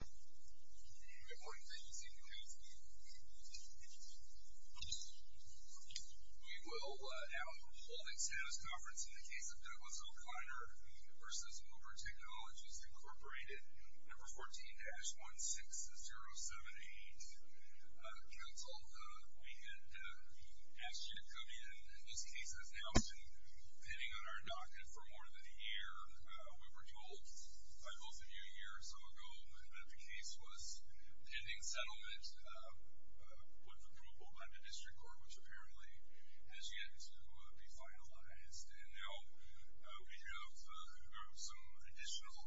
Good morning, thank you for seeing the news. We will now hold a status conference in the case of Douglas O'Connor v. Uber Technologies, Inc. Number 14-16078. Counsel, we had asked you to come in, in this case as Nelson, pending on our docket for more than a year. We were told by both of you a year or so ago that the case was pending settlement, with approval by the district court, which apparently has yet to be finalized. And now we have some additional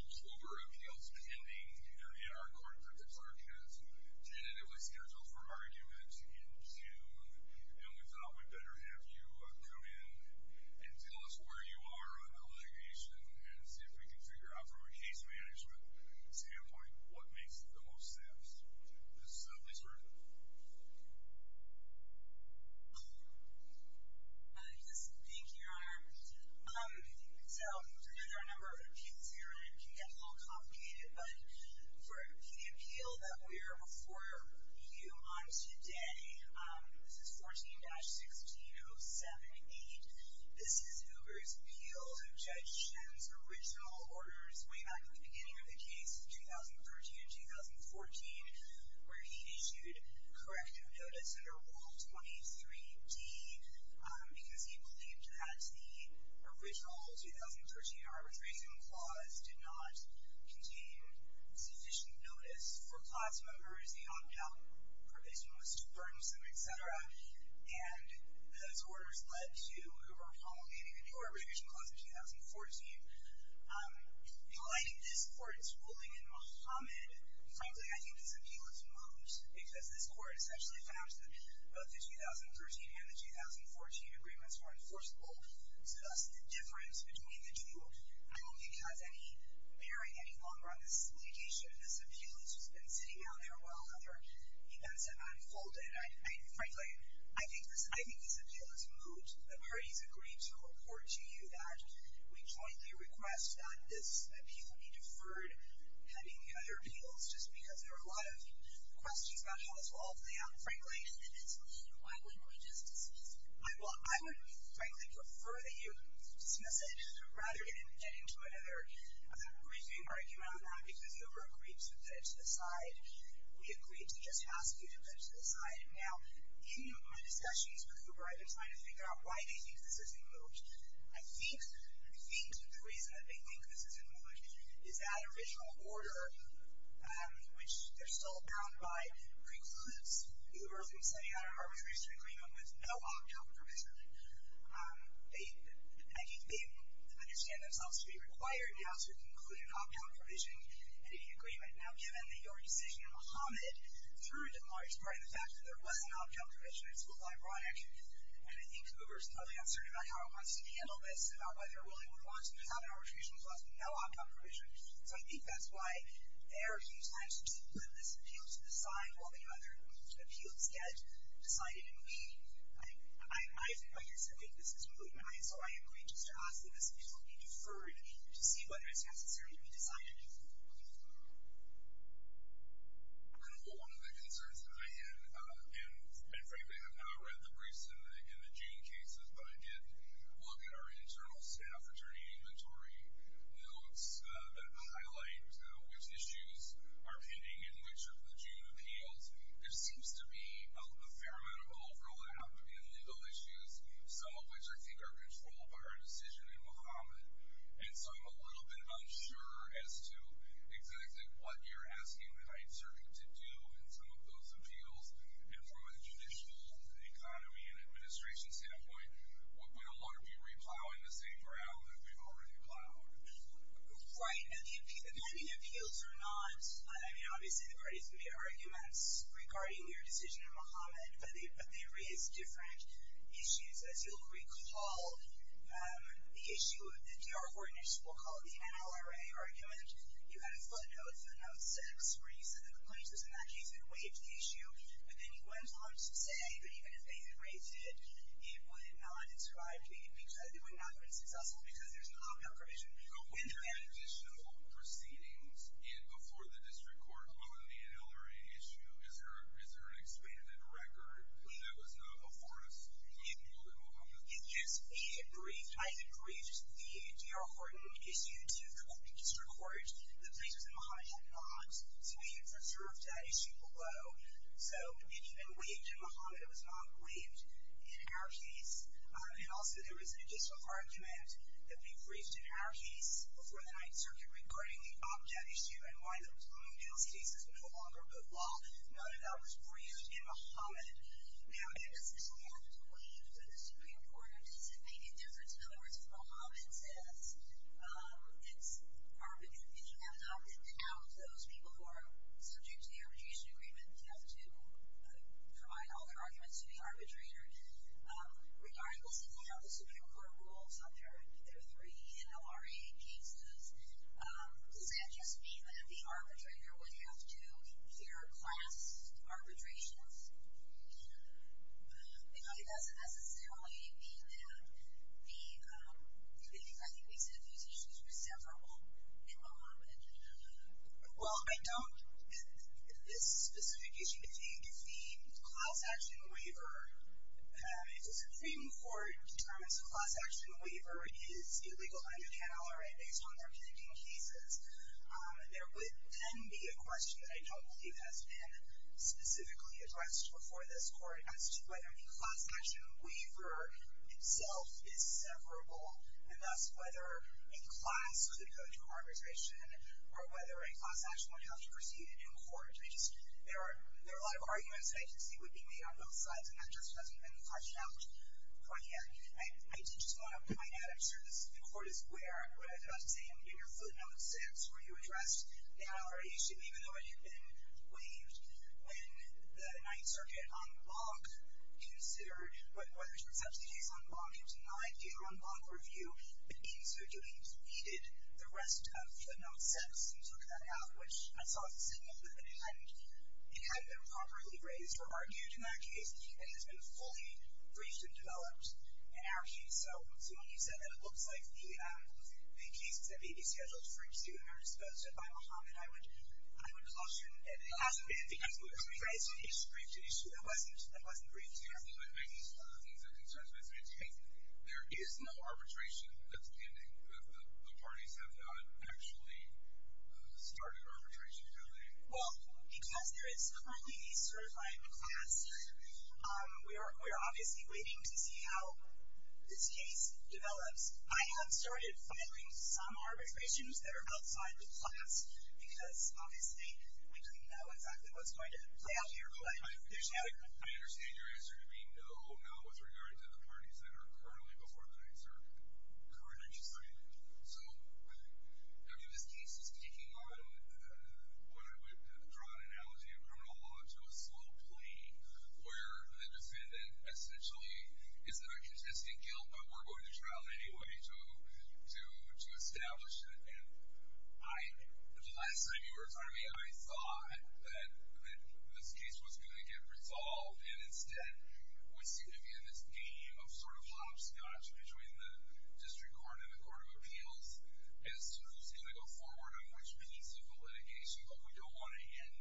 Uber appeals pending in our court. The clerk has tentatively scheduled for argument in June. And we thought we'd better have you come in and tell us where you are on the litigation and see if we can figure out, from a case management standpoint, what makes the most sense. This is Liz Bird. Thank you, Your Honor. So, there are a number of appeals here, and it can get a little complicated, but for the appeal that we are before you on today, this is 14-16078. This is Uber's appeal to Judge Shen's original orders, way back in the beginning of the case, 2013 and 2014, where he issued corrective notice under Rule 23D, because he believed that the original 2013 arbitration clause did not contain sufficient notice for class members, the on-count provision was too burdensome, et cetera. And those orders led to Uber promulgating a new arbitration clause in 2014. Like this court's ruling in Mohamed, frankly, I think this appeal is moot, because this court essentially found that both the 2013 and the 2014 agreements were enforceable, so that's the difference between the two. I don't think it has any bearing any longer on this litigation. This appeal has just been sitting out there while other events have unfolded. Frankly, I think this appeal is moot. The parties agreed to report to you that we jointly request that this appeal be deferred, just because there are a lot of questions about how this will all play out. Frankly, I would frankly prefer that you dismiss it, rather than get into another briefing or argument on that, because Uber agreed to put it to the side. We agreed to just ask Uber to put it to the side. Now, in my discussions with Uber, I've been trying to figure out why they think this is moot. I think the reason that they think this is moot is that original order, which they're still bound by, precludes Uber from setting out an arbitration agreement with no opt-out provision. They understand themselves to be required now to include an opt-out provision in any agreement. Now, given that your decision in Mohamed turned to the large part of the fact that there was an opt-out provision, and I think Uber is totally uncertain about how it wants to handle this, about whether it really would want to have an arbitration clause with no opt-out provision. So, I think that's why they're a few times to put this appeal to the side while the other appeals get decided and made. I think this is moot in my eyes, so I am going just to ask that this appeal be deferred One of the concerns that I had, and frankly I have not read the briefs in the Jane cases, but I did look at our internal staff attorney inventory notes that highlight which issues are pending and which of the Jane appeals. There seems to be a fair amount of overlap in legal issues, some of which I think are controlled by our decision in Mohamed. And so I'm a little bit unsure as to exactly what you're asking that I'd serve you to do in some of those appeals. And from a judicial economy and administration standpoint, would we no longer be re-plowing the same ground that we've already plowed? Right, and the pending appeals are not. I mean, obviously the parties can make arguments regarding your decision in Mohamed, but they raise different issues. As you'll recall, the issue of the D.R. 4 initiative, we'll call it the NLRA argument. You had a footnote, footnote 6, where you said that the plaintiffs in that case had waived the issue, but then you went on to say that even if they had waived it, it would not have been successful because there's an op-ed provision. But when there are additional proceedings before the district court on the NLRA issue, is there an expanded record that was not before us in Mohamed? Yes, we had briefed. I had briefed the D.R. 4 issue to the district court. The plaintiffs in Mohamed had not waived or served that issue below. So it had been waived in Mohamed. It was not waived in our case. And also there is an additional argument that we briefed in our case before the 9th Circuit regarding the op-ed issue and why there was no new case that was no longer above law. Noted that was briefed in Mohamed. Now, does this have to waive to the Supreme Court? Or does it make a difference? In other words, Mohamed says it's our opinion, and you have an op-ed to count those people who are subject to the arbitration agreement and have to provide all their arguments to the arbitrator. Regardless of how the Supreme Court rules on their NLRA cases, does that just mean that the arbitrator would have to hear class arbitrations? It doesn't necessarily mean that the, I think we said these issues were severable in Mohamed. Well, I don't, in this specific issue, think the class action waiver, if the Supreme Court determines the class action waiver is illegal under NLRA based on their predicting cases, there would then be a question that I don't believe has been specifically addressed before this Court as to whether the class action waiver itself is severable, and thus whether a class could go through arbitration or whether a class action would have to proceed in court. I just, there are a lot of arguments that I can see would be made on both sides, and that just hasn't been fleshed out quite yet. I did just want to point out, I'm sure the Court is aware of what I was about to say, and in your footnote 6 where you addressed the NLRA issue, even though it had been waived, in my view, in my view, in my view, it means that you needed the rest of the note 6 and took that out, which I saw as a signal that it hadn't been properly raised or argued in that case. It has been fully briefed and developed in our case. So, Simone, you said that it looks like the cases that may be scheduled for issue are disposed of by Mohamed. I would caution that it hasn't been. It's a briefed issue. It wasn't briefed. I'm just making some of the things that concerns me. There is no arbitration that's pending. The parties have not actually started arbitration, have they? Well, because there is currently a certified class here, we are obviously waiting to see how this case develops. I have started filing some arbitrations that are outside the class because, obviously, we don't know exactly what's going to play out here. I understand your answer being no, not with regard to the parties that are currently before the night, sir. Correct. So, I mean, this case is taking on what I would draw an analogy of criminal law to a slow plea where the defendant essentially is in a contested guilt, but we're going to trial it anyway to establish it. The last time you were in front of me, I thought that this case was going to get resolved, and instead we seem to be in this game of sort of hopscotch between the District Court and the Court of Appeals as to who's going to go forward on which piece of the litigation that we don't want to end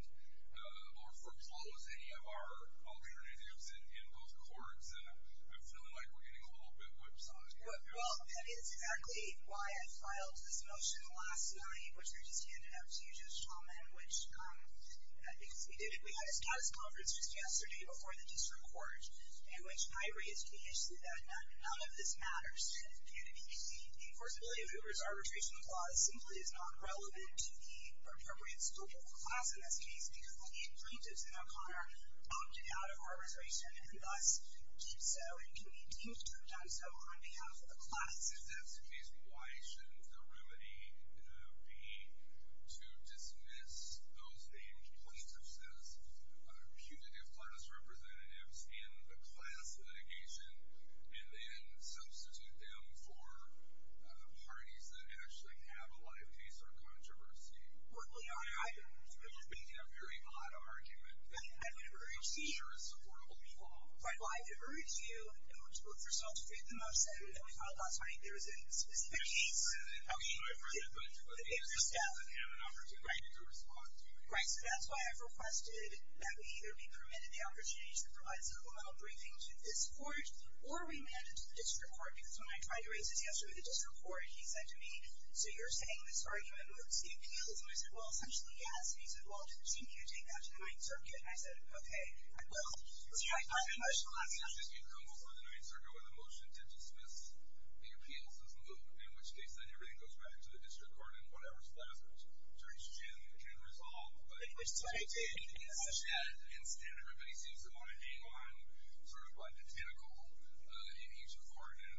or foreclose any of our alternatives in both courts, and I'm feeling like we're getting a little bit whipsawed here. Well, that is exactly why I filed this motion last night, which we just handed out to you, Judge Chalman, which, because we did it, we had a status conference just yesterday before the District Court in which I raised the issue that none of this matters. The enforceability of Hoover's arbitration clause simply is not relevant to the appropriate scope of the class in this case because the plaintiffs in that corner opted out of arbitration and thus did so and continue to have done so on behalf of the class. If that's the case, why shouldn't the remedy be to dismiss those named plaintiffs as punitive class representatives in the class litigation and then substitute them for parties that actually have a lot of case or controversy? Well, you know, I've been making a very odd argument that I would urge you. Well, I would urge you, first of all, to create the motion that we filed last night. There was a specific case. Okay. It was a staff opportunity to respond to. Right, so that's why I've requested that we either be permitted the opportunity to provide a supplemental briefing to this court or remand it to the District Court because when I tried to raise this yesterday with the District Court, he said to me, so you're saying this argument moots the appeals. And I said, well, essentially, yes. He said, well, didn't you need to take that to the Ninth Circuit? And I said, okay, I will. See, I filed the motion last night. You come over to the Ninth Circuit with a motion to dismiss the appeals as moot, in which case, then, everything goes back to the District Court and whatever's left of it, Judge Jim can resolve. But instead, everybody seems to want to hang on sort of like a tentacle in each court, and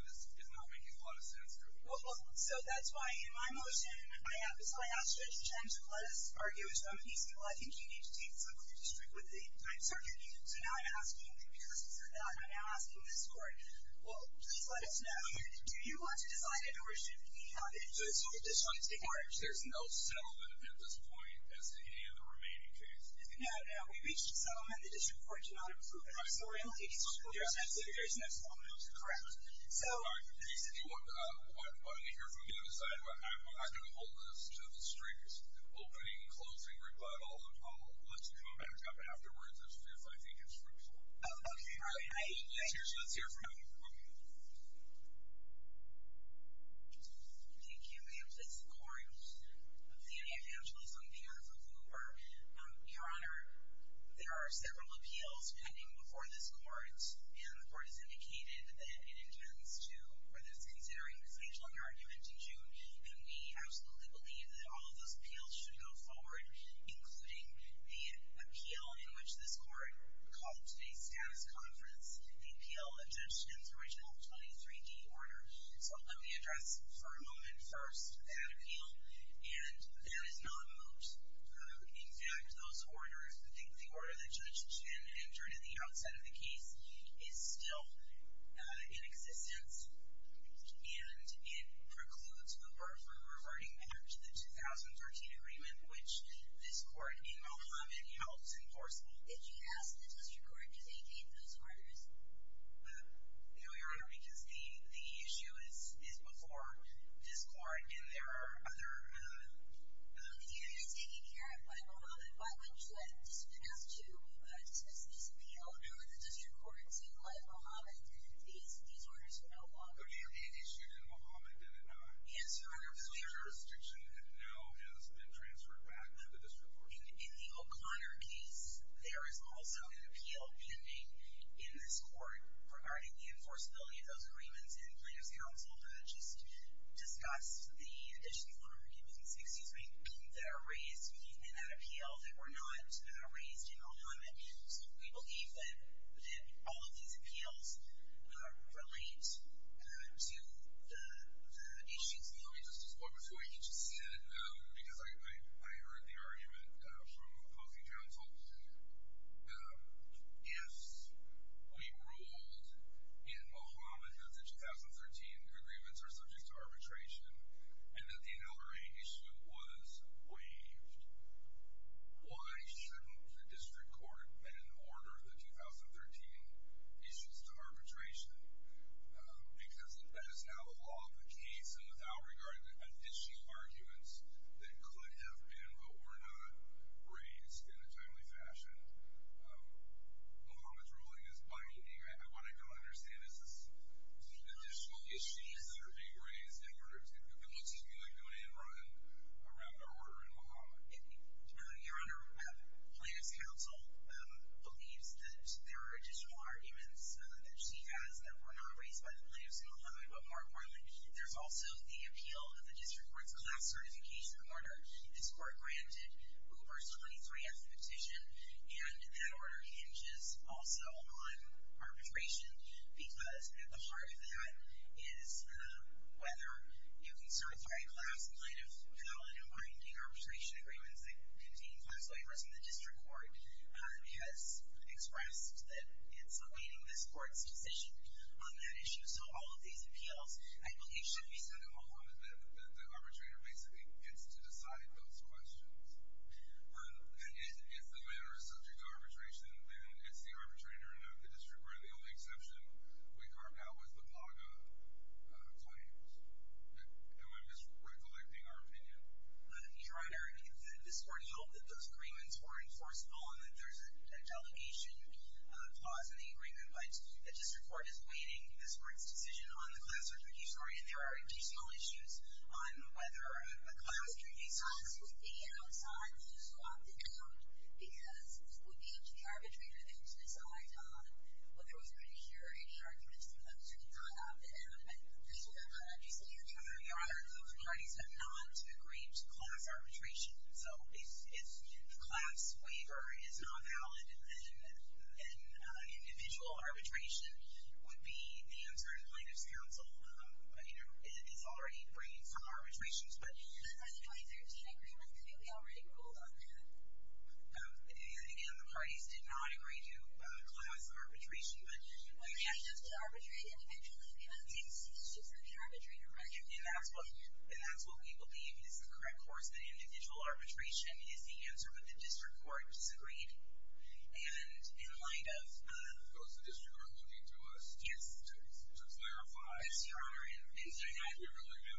this is not making a lot of sense to me. So that's why in my motion, I asked Judge Jim to let us argue as though he said, well, I think you need to take this up with the District with the Ninth Circuit. So now I'm asking, because he said that, I'm now asking this court, well, please let us know, do you want to decide it or should we have it? So this court decides to take it? There's no settlement at this point as to any of the remaining cases. No, no, we reached a settlement. The District Court did not approve it. I'm sorry. There's no settlement. Correct. So... I'm going to hear from you to decide what happens. I'm going to hold this to the District opening and closing rebuttal. Let's come back up afterwards if I think it's fruitful. Okay. All right. Let's hear from you. Thank you, Ma'am. This is the Court of the Evangelist on behalf of Hoover. Your Honor, there are several appeals pending before this court, and the court has indicated that it intends to, whether it's considering the stage-long argument in June, and we absolutely believe that all of those appeals should go forward, including the appeal in which this court called today's status conference, the appeal of Judge Chin's original 23-D order. So let me address for a moment first that appeal, and that is not moot. In fact, those orders, the order that Judge Chin entered at the outset of the case, is still in existence, and it precludes Hoover from reverting back to the 2013 agreement, which this court in Mohamed helps enforce. Did you ask the district court to take in those orders? No, Your Honor, because the issue is before this court, and there are other... The area is taken care of by Mohamed. Why wouldn't you ask to dismiss this appeal under the district court to let Mohamed enter these orders no longer? Okay, the issue in Mohamed, did it not? Yes, Your Honor. The jurisdiction now has been transferred back to the district court. In the O'Connor case, there is also an appeal pending in this court regarding the enforceability of those agreements, and the plaintiff's counsel did not just discuss the additional arguments, excuse me, that are raised in that appeal that were not raised in Mohamed. So we believe that all of these appeals relate to the issues in Mohamed. Let me just just point before you. You just said, because I heard the argument from opposing counsel, that if we ruled in Mohamed that the 2013 agreements are subject to arbitration and that the NLRA issue was waived, why shouldn't the district court then order the 2013 issues to arbitration? Because that is how the law of the case, and without regard to additional arguments that could have been but were not raised in a timely fashion, Mohamed's ruling is binding. What I don't understand is this additional issues that are being raised in order to, it looks to me like going in and running around our order in Mohamed. Your Honor, plaintiff's counsel believes that there are additional arguments that she has that were not raised by the plaintiffs in Mohamed but more importantly, there's also the appeal of the district court's class certification order. This court granted Hoover's 23th petition, and that order hinges also on arbitration because at the heart of that is whether you can start a third class plaintiff with valid and binding arbitration agreements that contain class waivers, and the district court has expressed that it's awaiting this court's decision on that issue, so all of these appeals, I believe should be sent to Mohamed. The arbitrator basically gets to decide those questions, and if the matter is subject to arbitration, then it's the arbitrator and not the district court, and the only exception we carved out was the Plaga claims. And I'm just recollecting our opinion. Your Honor, this court held that those agreements were enforceable and that there's a delegation clause in the agreement, but the district court is awaiting this court's decision on the class certification order, and there are additional issues on whether a class can be certified. This is being outside, this is locked down, because it would be up to the arbitrator to get to decide on whether it was an issue or any arguments from them, so it's not up to them. Your Honor, those parties have not agreed to class arbitration, so if the class waiver is not valid and individual arbitration would be answered, plaintiff's counsel is already bringing some arbitrations, but... But are the 2013 agreements completely already ruled on that? Again, the parties did not agree to class arbitration, but... The plaintiffs can arbitrate individually, but the district court can arbitrate individually. And that's what we believe is the correct course, that individual arbitration is the answer, but the district court disagreed. And in light of... Because the district court is looking to us... Yes. To clarify... Yes, Your Honor, and... We really do.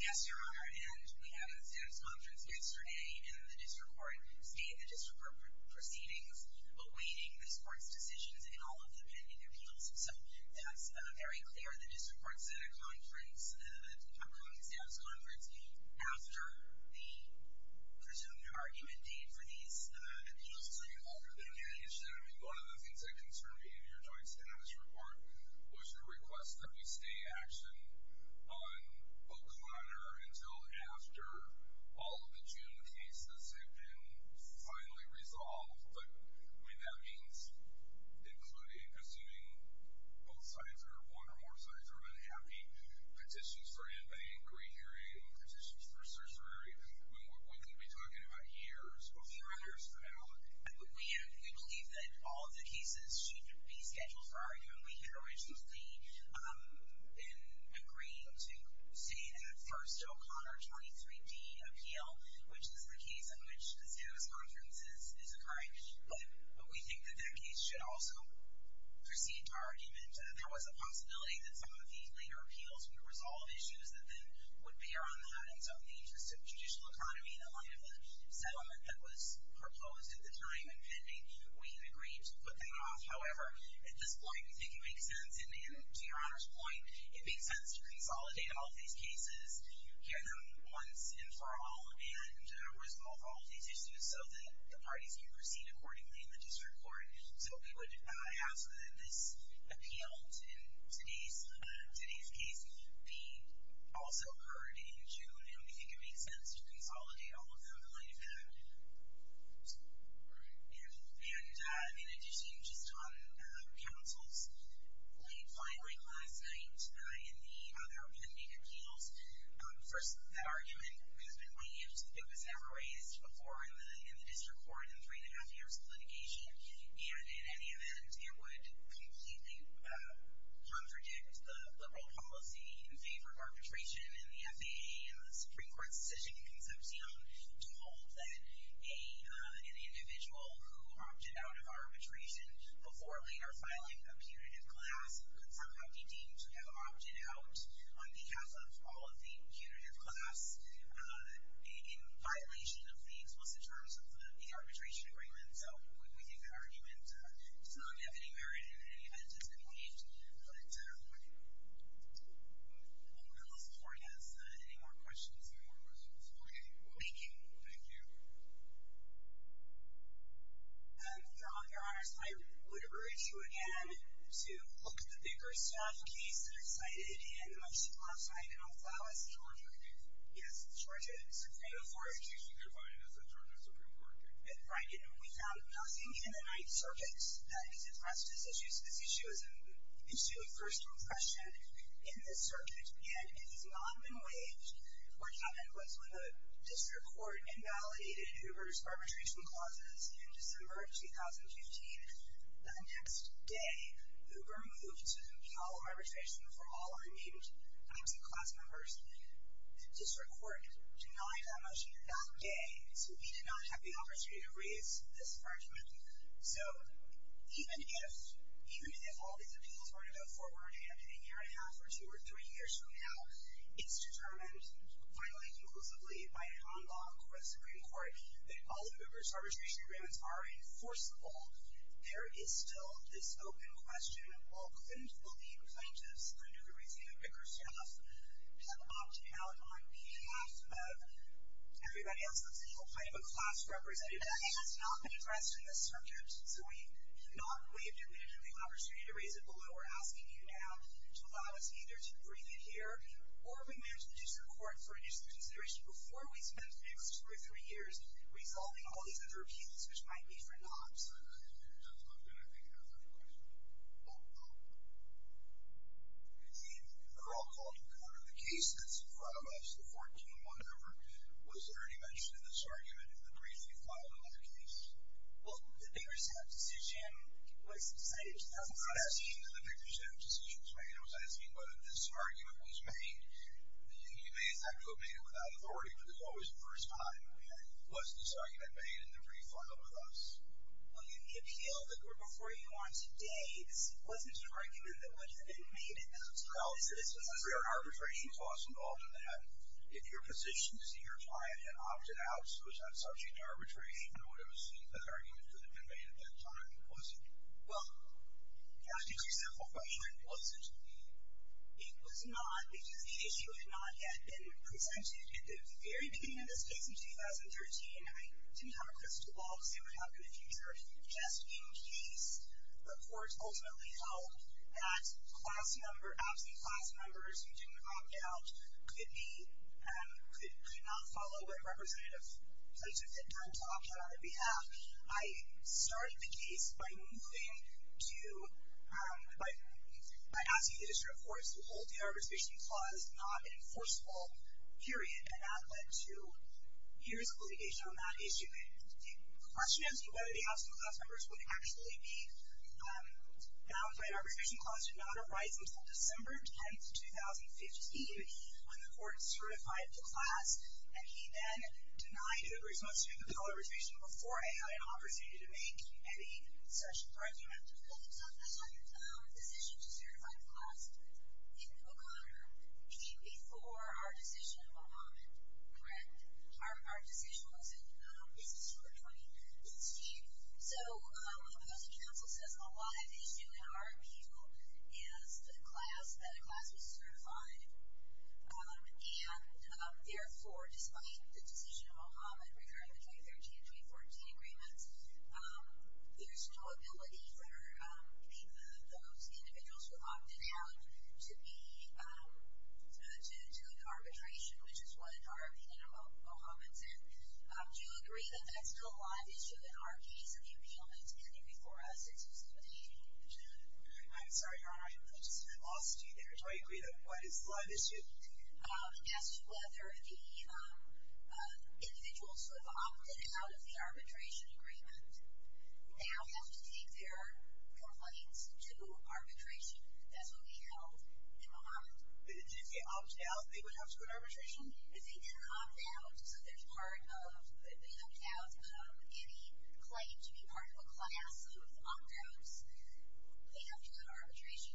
Yes, Your Honor, and we had a conference yesterday, and the district court stated the district court proceedings, awaiting the district court's decisions in all of the pending appeals. So that's very clear, the district court said a conference, a joint status conference, after the presumed argument date for these appeals. So Your Honor, I mean, one of the things that concerned me in your joint status report was your request that we stay action on O'Connor until after all of the June cases have been finally resolved. But, I mean, that means including, assuming both sides or one or more sides are unhappy, petitions for in-bank re-hearing, petitions for certiorari. I mean, we could be talking about years before there's a penalty. We believe that all of the cases should be scheduled for argument. We had originally been agreeing to stay in the first O'Connor 23-D appeal, which is the case in which the status conference is occurring. But we think that that case should also proceed to argument. There was a possibility that some of the later appeals would resolve issues that then would bear on that. And so in the interest of judicial economy, in the light of the settlement that was proposed at the time and pending, we agreed to put that off. However, at this point, we think it makes sense, and to Your Honor's point, it makes sense to consolidate all of these cases, hear them once and for all, and resolve all of these issues so that the parties can proceed accordingly in the district court. So we would ask that this appeal, in today's case, be also heard in June. And we think it makes sense to consolidate all of them in light of that. And in addition, just on counsel's late filing last night in the other pending appeals, first, that argument has been waived. It was never raised before in the district court in three and a half years of litigation. And in any event, it would completely contradict the liberal policy in favor of arbitration in the FAA and the Supreme Court's decision in Concepcion to hold that an individual who opted out of arbitration before later filing a punitive class could somehow be deemed to have opted out on behalf of all of the punitive class in violation of the explicit terms of the arbitration agreement. So we think that argument, it's not going to have any merit in any event, it's been waived. But, we'll listen for any more questions. Any more questions? Okay, thank you. Thank you. For all your honors, I would urge you again to look at the bigger stuff in case they're cited in the motion last night Yes, Georgia Supreme Court. Right, and we found nothing in the Ninth Circuit that is addressed this issue. This issue is an issue of first impression in this circuit. And it has not been waived. What happened was when the district court invalidated Hoover's arbitration clauses in December of 2015, the next day, Hoover moved to compel arbitration for all unnamed absent class members. The district court denied that motion that day, so we did not have the opportunity to raise this argument. So, even if, even if all these appeals were to go forward in a year and a half or two or three years from now, it's determined, finally, conclusively, by an en banc or a Supreme Court that all of Hoover's arbitration agreements are enforceable, there is still this open question that all claimed to believe plaintiffs under the regime of Bickerstaff have opted out on behalf of everybody else that's in the whole pipe of class representatives. It has not been addressed in this circuit, so we have not waived it. We didn't have the opportunity to raise it. Below, we're asking you now to allow us either to breathe it here or we may ask the district court for additional consideration before we spend the next two or three years resolving all these other appeals, which might be for naught. Yes, it does look good. I think it has a question. Oh, oh. It seems that they're all calling the court on the case that's in front of us, the 14-1 over. Was there any mention of this argument in the brief you filed on the case? Well, the Bickerstaff decision was decided in 2014. I'm not asking that the Bickerstaff decision was made. I was asking whether this argument was made. You may, in fact, have made it without authority, but there's always a first time. I mean, was this argument made in the brief filed with us? Well, in the appeal, the court before you on today, this wasn't an argument that would have been made at that time. Well, so this was a fair arbitration clause involved in that. If your position is that your client had opted out, was that subject to arbitration, or would it have been seen as an argument that would have been made at that time? Was it? Well, I'll ask you a simple question. Was it? It was not, because the issue had not yet been presented. At the very beginning of this case in 2013, I didn't have a crystal ball because it would happen in the future. Just in case, the court ultimately held that class number, absentee class numbers who didn't opt out could not follow what representative had done to opt out on their behalf. I started the case by moving to, by asking the district courts to hold the arbitration clause not an enforceable period, and that led to years of litigation on that issue. The question is whether the absent class numbers would actually be valid. Our arbitration clause did not arise until December 10th, 2015 when the court certified the class, and he then denied a response to the bill of arbitration before I had an opportunity to make any such argument. Well, the decision to certify the class in O'Connor came before our decision of O'Hammed, correct? Our decision was in December 2018. So, as the council says, a live issue in our appeal is that a class was certified, and therefore, despite the decision of O'Hammed regarding the 2013 and 2014 agreements, there's no ability for any of those individuals who opted out to go to arbitration, which is what our opinion of O'Hammed's in. Do you agree that that's still a live issue in our case and the appeal that's pending before us in 2018? I'm sorry, Your Honor, I just lost you there. Do I agree that that's still a live issue? As to whether the individuals who have opted out of the arbitration agreement now have to take their complaints to arbitration, that's what we held in O'Hammed. Did they opt out? They would have to go to arbitration? If they didn't opt out, so they opted out of any claim to be part of a class of opt-outs, they'd have to go to arbitration.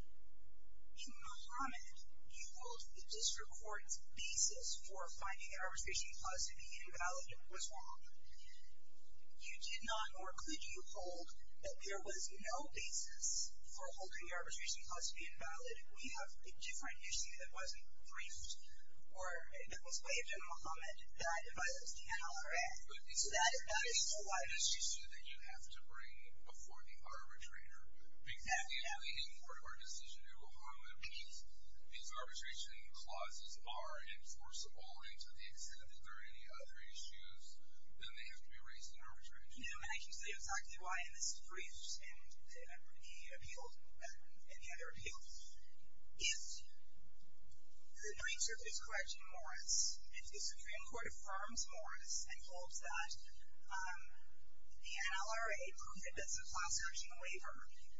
In O'Hammed, you hold the district court's basis for finding an arbitration clause to be invalid was wrong. You did not, or could you hold that there was no basis for holding the arbitration clause to be invalid? We have a different issue that wasn't briefed or that was waived in O'Hammed that violates the NLRF. So that is not a new one. This issue that you have to bring before the arbitrator. Exactly, yeah. In part of our decision in O'Hammed, if these arbitration clauses are enforceable and to the extent that there are any other issues, then they have to be raised in arbitration. Yeah, and I can see exactly why in this brief and the appeals, and the other appeals, if the Supreme Court affirms Morris and holds that the NLRA approved it as a class action waiver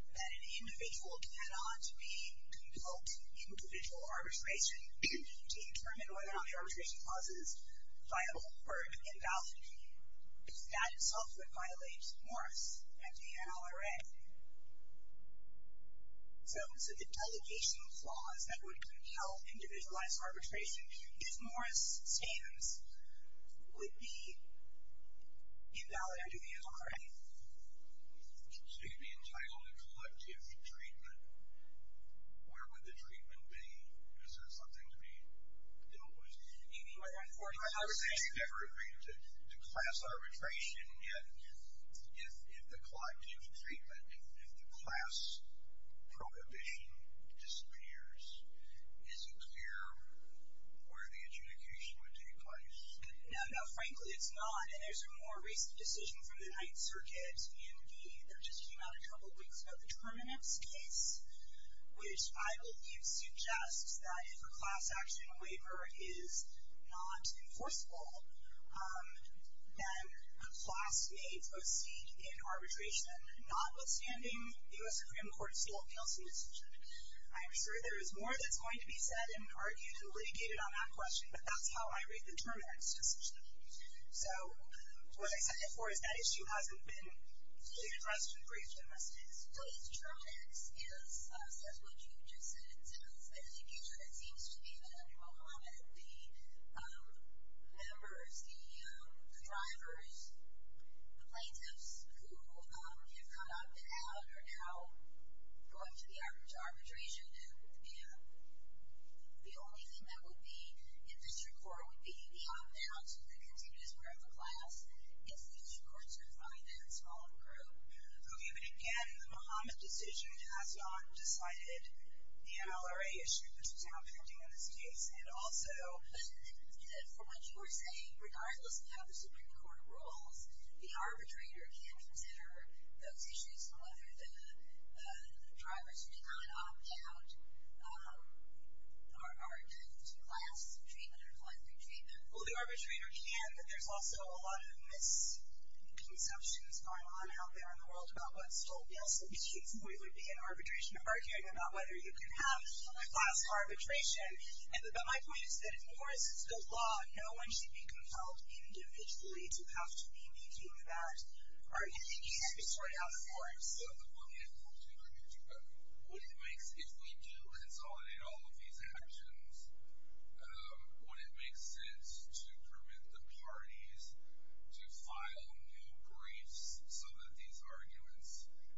that an individual cannot be to invoke individual arbitration to determine whether or not the arbitration clause is viable or invalid, that itself would violate Morris and the NLRA. So the delegation clause that would compel individualized arbitration if Morris stands would be invalid under the NLRA. So you'd be entitled to collective treatment. Where would the treatment be? Is there something to be imposed? I'm not saying you'd ever agree to class arbitration, and yet, if the collective treatment, if the class prohibition disappears, is it clear where the adjudication would take place? No, no, frankly, it's not, and there's a more recent decision from the Ninth Circuit, and there just came out a couple of weeks ago, the Terminix case, which I believe suggests that if a class action waiver is not enforceable, then a class may proceed in arbitration, notwithstanding the U.S. Supreme Court's Steele-Nelson decision. I'm sure there is more that's going to be said and argued and litigated on that question, but that's how I read the Terminix decision. So what I sent it for is that issue hasn't been fully addressed in brief in this case. So Terminix is, says what you just said, it's an adjudication. It seems to be that Muhammad, the members, the drivers, the plaintiffs who have not been out are now going to the arbitration, and the only thing that would be, in district court, would be the opt-out to the continuous wear of the class if the district courts are fined that small group. Okay, but again, the Muhammad decision has not decided the NLRA issue, which is now pending in this case, and also, for what you were saying, regardless of how the Supreme Court rules, the arbitrator can consider those issues, whether the drivers who did not opt-out are going to class treatment or collective treatment. Well, the arbitrator can, but there's also a lot of misconceptions going on out there in the world about what Steele-Nelson means. We would be in arbitration arguing about whether you can have a class arbitration but my point is that, of course, it's the law. No one should be compelled individually to have to be making that argument. You have to sort it out, of course. The one thing I'd like to agree with you about, what it makes, if we do consolidate all of these actions, what it makes sense to permit the parties to file new briefs so that these arguments,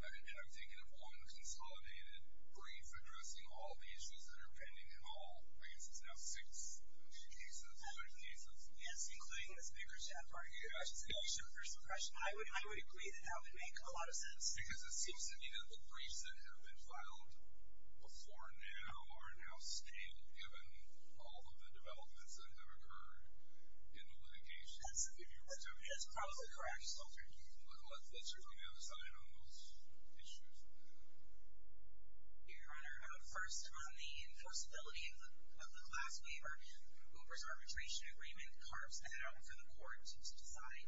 I'm thinking of one consolidated brief addressing all the issues that are pending in all, I guess it's now six cases, five cases. Yes, including the speaker's chat part. Yeah. I would agree that that would make a lot of sense. Because it seems to me that the briefs that have been filed before now are now stable given all of the developments that have occurred in the litigation. That's probably correct. Let's hear from the other side on those issues. Your Honor, first on the enforceability of the class waiver, Uber's arbitration agreement carves that out for the court to decide.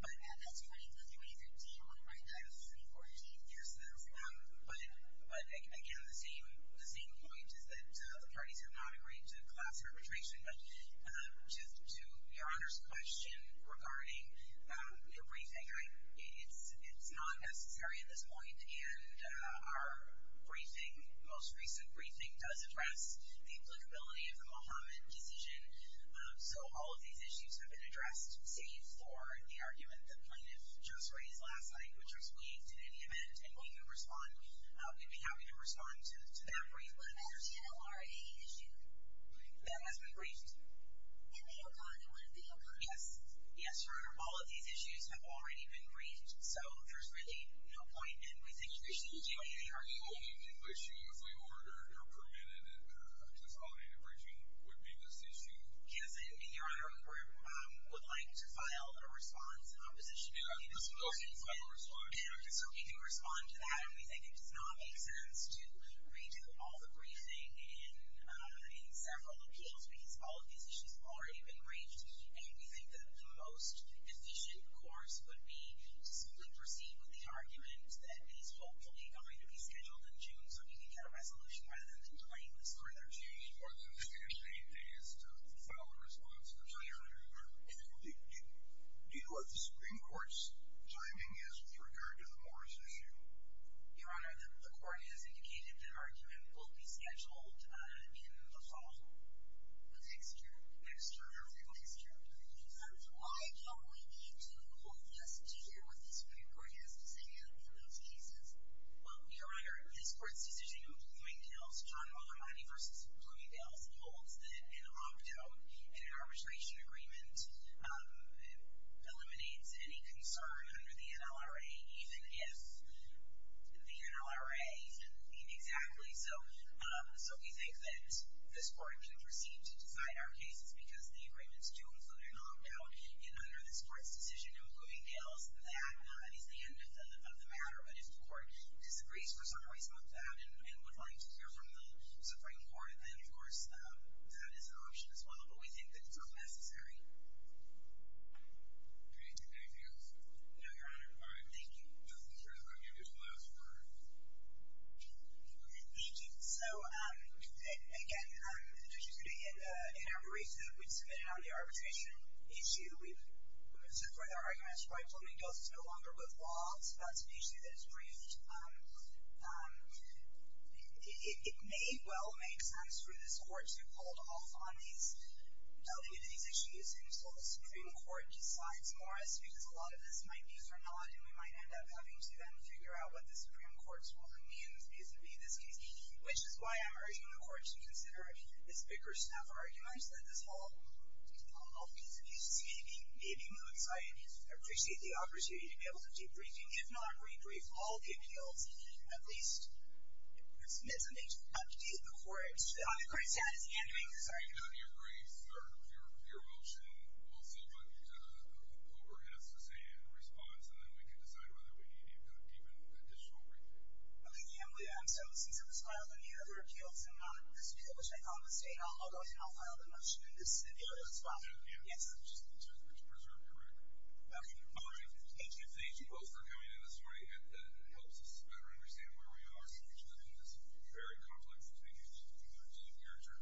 But that's 2013, on the right side of 2014. Yes, that's right. But again, the same point is that the parties have not agreed to class arbitration. But just to Your Honor's question regarding the briefing, it's not necessary at this point and our briefing, most recent briefing, does address the applicability of the Mohammad decision. So all of these issues have been addressed, save for the argument the plaintiff just raised last night, which was waived at any event. And we can respond. We'd be happy to respond to that brief. But that's an LRA issue. That has been briefed. And they are gone. It would have been gone. Yes. Yes, Your Honor, all of these issues have already been briefed. So there's really no point and we think there shouldn't be any argument. The only issue, as we ordered or permitted in this qualitative briefing, would be this issue. Yes, and Your Honor, we would like to file a response in opposition to these briefings. And so we do respond to that and we think it does not make sense to redo all the briefing in several appeals because all of these issues have already been briefed. And we think that the most efficient course would be to simply proceed with the argument that is hopefully going to be scheduled in June so we can get a resolution rather than inviting this further change. Your Honor, the main thing is to file a response in opposition to these briefings. Do you know what the Supreme Court's timing is with regard to the Morris issue? Your Honor, the court has indicated that argument will be scheduled in the fall. Next year? Next year. Next year. And why don't we need to hold this to hear what the Supreme Court has to say for those cases? Well, Your Honor, this court's decision in Bloomingdale's, John Mulhermione v. Bloomingdale's, holds that an opt-out and an arbitration agreement eliminates any concern under the NLRA even if the NLRA can leave. Exactly. So we think that this court can proceed to decide our cases because the agreements do include an opt-out. And under this court's decision in Bloomingdale's, that is the end of the matter. But if the court disagrees for some reason with that and would like to hear from the Supreme Court, then, of course, that is an option as well. But we think that it's unnecessary. Can I take anything else? No, Your Honor. All right. Thank you. Just in terms of argument, there's one last word. Thank you. So, again, just yesterday in Arboretum, we submitted on the arbitration issue. We've submitted our arguments. Rightfully, Bloomingdale's is no longer with law. That's an issue that is briefed. It may well make sense for this court to hold off on any of these issues until the Supreme Court decides for us because a lot of this might be for naught and we might end up having to then figure out what the Supreme Court's ruling means vis-a-vis this case, which is why I'm urging the court to consider its bigger staffer arguments that this whole piece of this may be moot. So I appreciate the opportunity to be able to debrief, and if not re-brief all the appeals, at least submit something to the court. Your Honor, the court is satisfied. I'm sorry. Your grace, your motion, we'll see what the court has to say in response and then we can decide whether we need to keep an additional briefing. Okay. Since it was filed on the other appeals and not on this appeal, which I found to stay, I'll go ahead and I'll file the motion in this area as well. Yes, sir. Just preserve your record. Okay. All right. Thank you both for coming in this morning. It helps us better understand where we are in this very complex situation. Your turn.